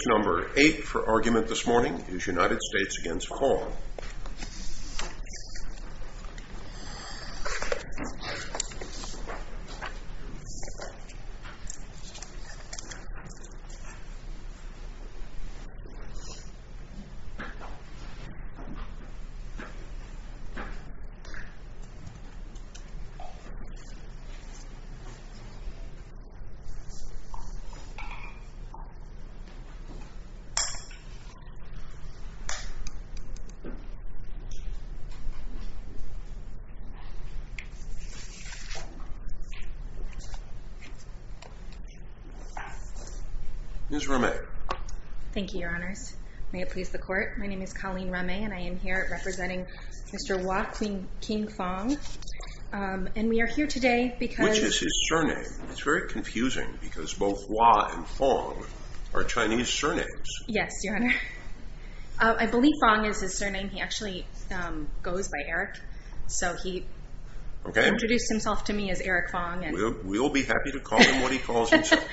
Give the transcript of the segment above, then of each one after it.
Speech number 8 for argument this morning is United States v. Fong Miss Raume Thank you, your honors. May it please the court. My name is Colleen Raume and I am here representing Mr. Hua Khingfong and we are here today because Which is his surname. It is very confusing because both Hua and Fong are Chinese surnames. Yes, your honor. I believe Fong is his surname. He actually goes by Eric. So he introduced himself to me as Eric Fong. We will be happy to call him what he calls himself.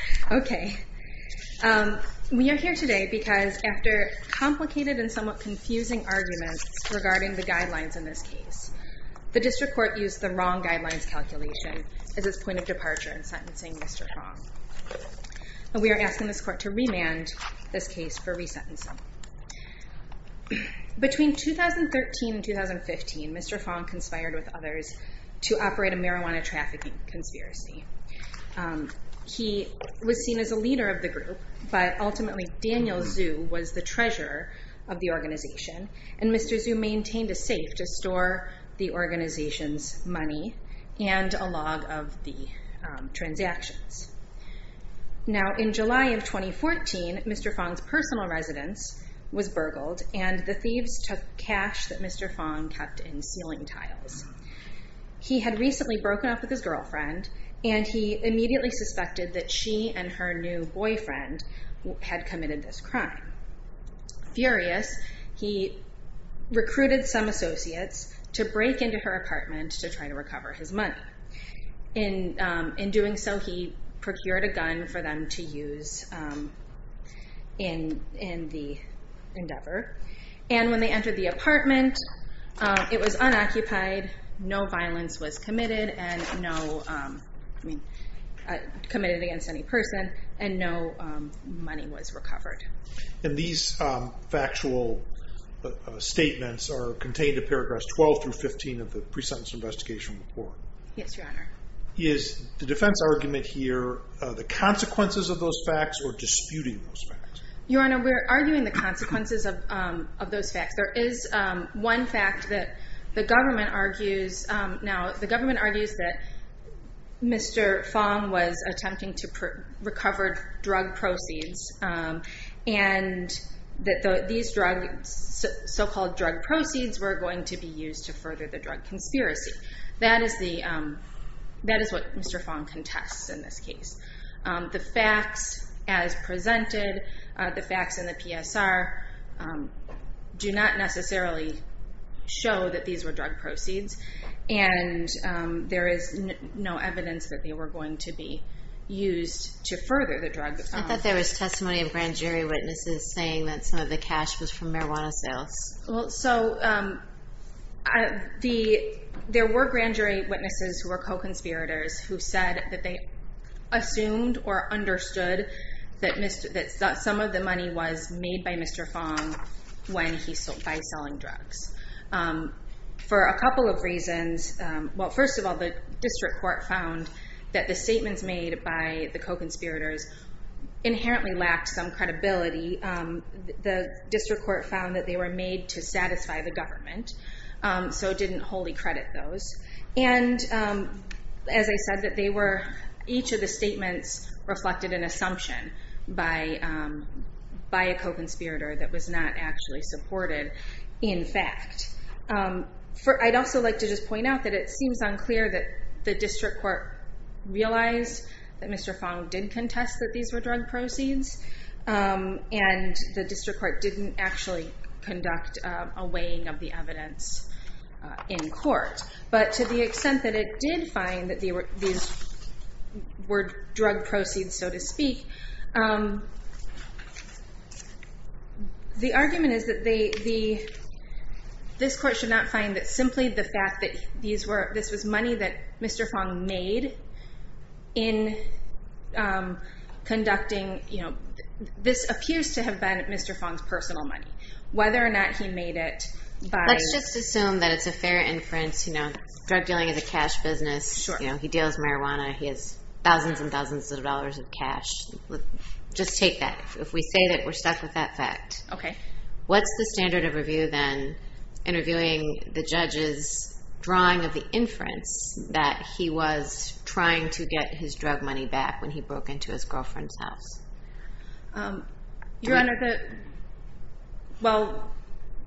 We are here today because after complicated and somewhat confusing arguments regarding the guidelines in this case, the district court used the wrong guidelines calculation as its point of departure in sentencing Mr. Fong. We are asking this court to remand this case for resentencing. Between 2013 and 2015, Mr. Fong conspired with others to operate a marijuana trafficking conspiracy. He was seen as a leader of the group, but ultimately Daniel Zhu was the treasurer of the organization and Mr. Zhu maintained a safe to store the organization's money and a log of the transactions. Now in July of 2014, Mr. Fong's organization Personal Residence was burgled and the thieves took cash that Mr. Fong kept in ceiling tiles. He had recently broken up with his girlfriend and he immediately suspected that she and her new boyfriend had committed this crime. Furious, he recruited some associates to break into her apartment to try to recover his money. In doing so, he procured a gun for them to use in the endeavor. When they entered the apartment, it was unoccupied, no violence was committed against any person, and no money was recovered. These factual statements are contained in paragraphs 12 through 15 of the pre-sentence investigation report. Yes, Your Honor. Is the defense argument here the consequences of those facts or disputing those facts? Your Honor, we're arguing the consequences of those facts. There is one fact that the government argues. Now, the government argues that Mr. Fong was attempting to recover drug proceeds and that these so-called drug proceeds were going to be used to further the drug conspiracy. That is what Mr. Fong contests in this case. The facts as presented are not the facts in the PSR do not necessarily show that these were drug proceeds. There is no evidence that they were going to be used to further the drug. I thought there was testimony of grand jury witnesses saying that some of the cash was from marijuana sales. There were grand jury witnesses who were co-conspirators who said that they assumed or understood that some of the money was made by Mr. Fong by selling drugs. For a couple of reasons, first of all, the district court found that the statements made by the co-conspirators inherently lacked some credibility. The district court found that they were made to satisfy the government, so it didn't wholly credit those. As I said, each of the statements reflected an assumption by a co-conspirator that was not actually supported in fact. I'd also like to just point out that it seems unclear that the district court realized that Mr. Fong did contest that these were drug proceeds and the district court didn't actually contest this in court, but to the extent that it did find that these were drug proceeds, so to speak, the argument is that this court should not find that simply the fact that this was money that Mr. Fong made in conducting... This appears to have been Mr. Fong's personal money. Whether or not he made it by... Let's just assume that it's a fair inference. Drug dealing is a cash business. He deals marijuana. He has thousands and thousands of dollars of cash. Just take that. If we say that we're stuck with that fact, what's the standard of review then in reviewing the judge's drawing of the inference that he was trying to get his drug money back when he broke into his girlfriend's house? Your Honor,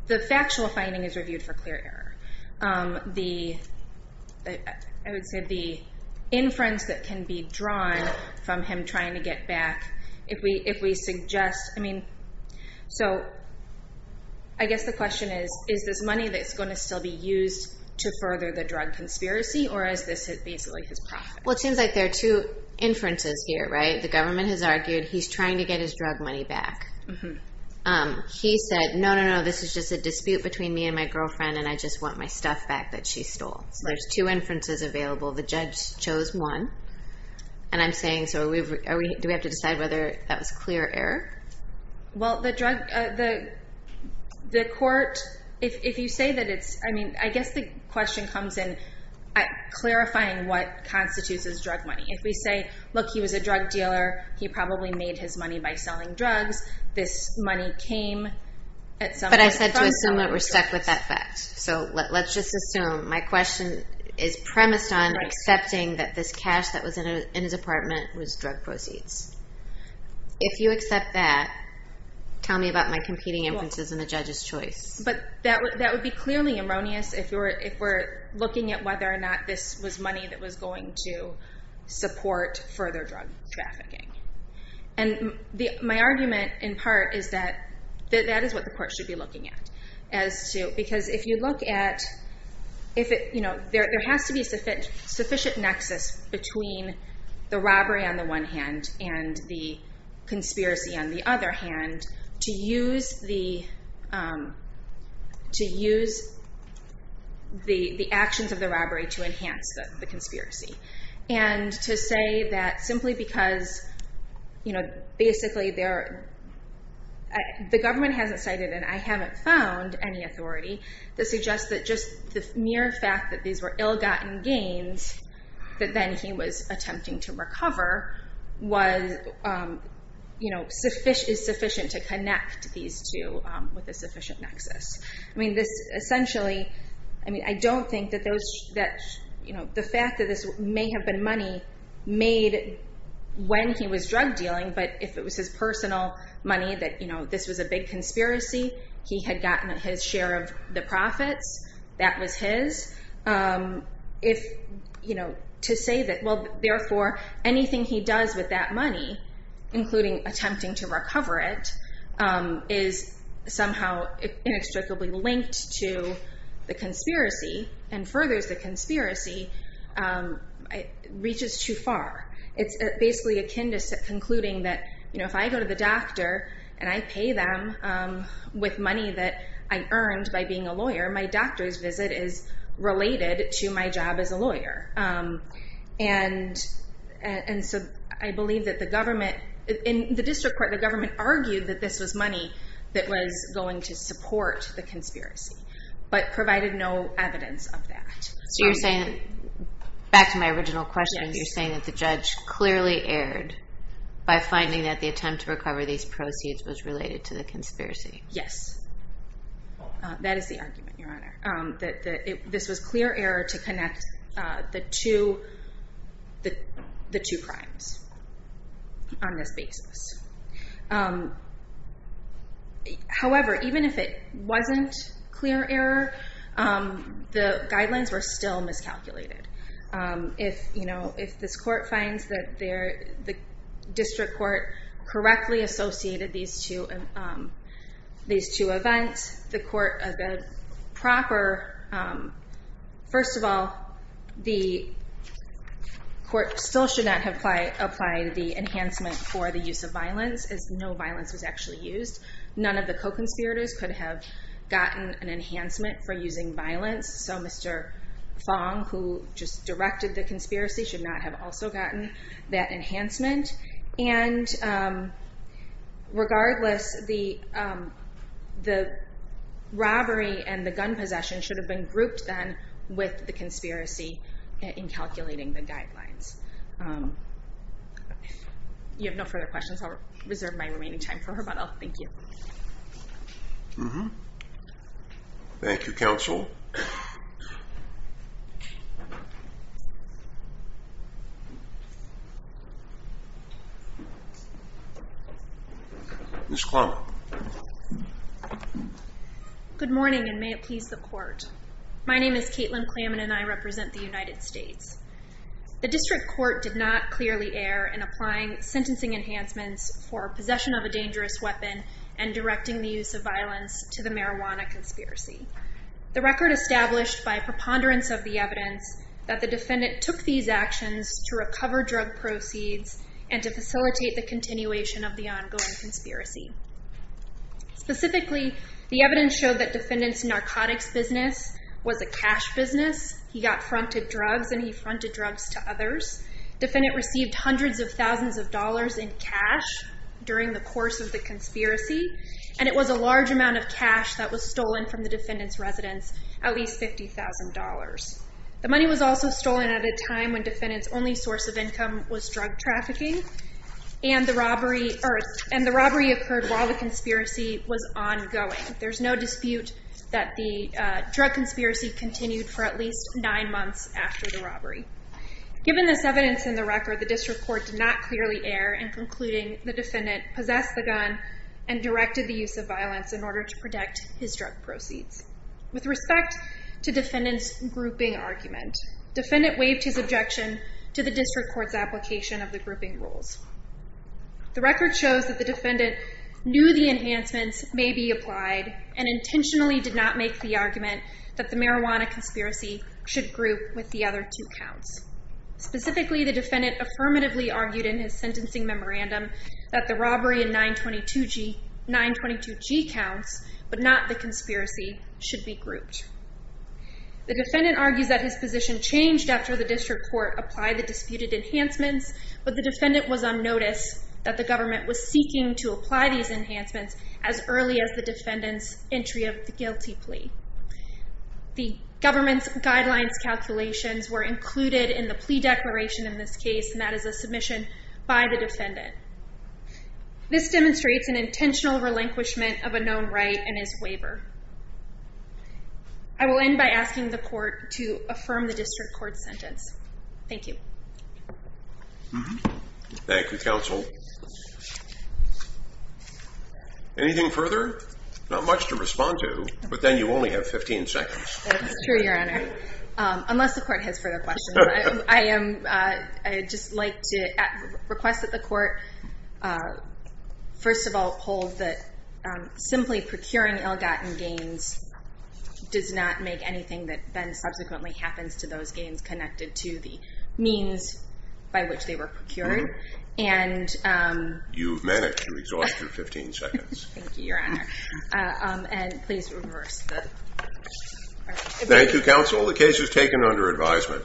the factual finding is reviewed for clear error. I would say the inference that can be drawn from him trying to get back, if we suggest... I guess the question is, is this money that's going to still be used to further the drug conspiracy or is this basically his profit? It seems like there are two inferences here, right? The government has argued he's trying to get his drug money back. He said, no, no, no, this is just a dispute between me and my girlfriend and I just want my stuff back that she stole. There's two inferences available. The judge chose one. I'm saying, do we have to decide whether that was clear error? Well, the court... I guess the question comes in clarifying what constitutes as drug money. If we say, look, he was a drug dealer, he probably made his money by selling drugs. This money came at some point from... But I said to assume that we're stuck with that fact. Let's just assume my question is premised on accepting that this cash that was in his apartment was drug proceeds. If you accept that, tell me about my competing inferences and the judge's choice. That would be clearly erroneous if we're looking at whether or not this was money that was going to support further drug trafficking. My argument in part is that that is what the court should be looking at. Because if you look at... There has to be a sufficient nexus between the robbery on the one hand and the conspiracy on the other hand to use the actions of the robbery to enhance the conspiracy. And to say that simply because... Basically, the government hasn't cited, and I haven't found, any authority that suggests that just the mere fact that these were ill-gotten gains that then he was attempting to recover is sufficient to connect these two with a sufficient nexus. This essentially... I don't think that the fact that this may have been money made when he was drug dealing, but if it was his personal money that this was a big conspiracy, he had gotten his share of the profits, that was his. To say that... Therefore, anything he does with that money, including attempting to recover it, is somehow inextricably linked to the conspiracy and furthers the conspiracy, reaches too far. It's basically akin to concluding that if I go to the doctor and I pay them with money that I earned by being a lawyer, my doctor's visit is related to my job as a lawyer. I believe that the government... In the district court, the government argued that this was money that was going to support the conspiracy, but provided no evidence of that. You're saying... Back to my original question, you're saying that the judge clearly erred by finding that the attempt to recover these proceeds was related to the conspiracy. Yes. That is the argument, Your Honor. This was clear error to connect the two crimes on this basis. However, even if it wasn't clear error, the guidelines were still in this calculated. If this court finds that the district court correctly associated these two events, the court of a proper... First of all, the court still should not have applied the enhancement for the use of violence, as no violence was actually used. None of the guidelines had an enhancement for using violence, so Mr. Fong, who just directed the conspiracy, should not have also gotten that enhancement. Regardless, the robbery and the gun possession should have been grouped then with the conspiracy in calculating the guidelines. You have no further questions. I'll reserve my remaining time for her, but I'll thank you. Mm-hmm. Thank you, counsel. Ms. Klaman. Good morning, and may it please the court. My name is Caitlin Klaman, and I represent the United States. The district court did not clearly err in applying sentencing enhancements for possession of a dangerous weapon and directing the use of violence to the marijuana conspiracy. The record established by preponderance of the evidence that the defendant took these actions to recover drug proceeds and to facilitate the continuation of the ongoing conspiracy. Specifically, the evidence showed that defendant's narcotics business was a cash business. He got fronted drugs, and he fronted drugs to others. Defendant received hundreds of thousands of dollars in cash during the course of the conspiracy, and it was a large amount of cash that was stolen from the defendant's residence, at least $50,000. The money was also stolen at a time when defendant's only source of income was drug trafficking, and the robbery occurred while the conspiracy was ongoing. There's no dispute that the drug conspiracy continued for at least nine months after the robbery. Given this evidence in the record, the district court did not clearly err in concluding the defendant possessed the gun and directed the use of violence in order to protect his drug proceeds. With respect to defendant's grouping argument, defendant waived his objection to the district court's application of the grouping rules. The record shows that the defendant knew the enhancements may be applied and intentionally did not make the argument that the marijuana conspiracy should group with the other two counts. Specifically, the defendant affirmatively argued in his sentencing memorandum that the robbery in 922G counts, but not the conspiracy should be grouped. The defendant argues that his position changed after the district court applied the disputed enhancements, but the defendant was on notice that the government was seeking to apply these enhancements as early as the defendant's entry of the guilty plea. The government's guidelines calculations were included in the plea declaration in this case, and that is a submission by the defendant. This demonstrates an intentional relinquishment of a known right and his waiver. I will end by asking the court to affirm the district court's sentence. Thank you. Thank you, counsel. Anything further? Not much to respond to, but then you only have 15 seconds. That's true, your honor. Unless the court has further questions, I would just like to request that the court first of all hold that simply procuring ill-gotten gains does not make anything that then subsequently happens to those gains connected to the means by which they were procured. You've managed to exhaust your 15 seconds. Thank you, your honor. And please reverse the argument. Thank you, counsel. The case is taken under advisement.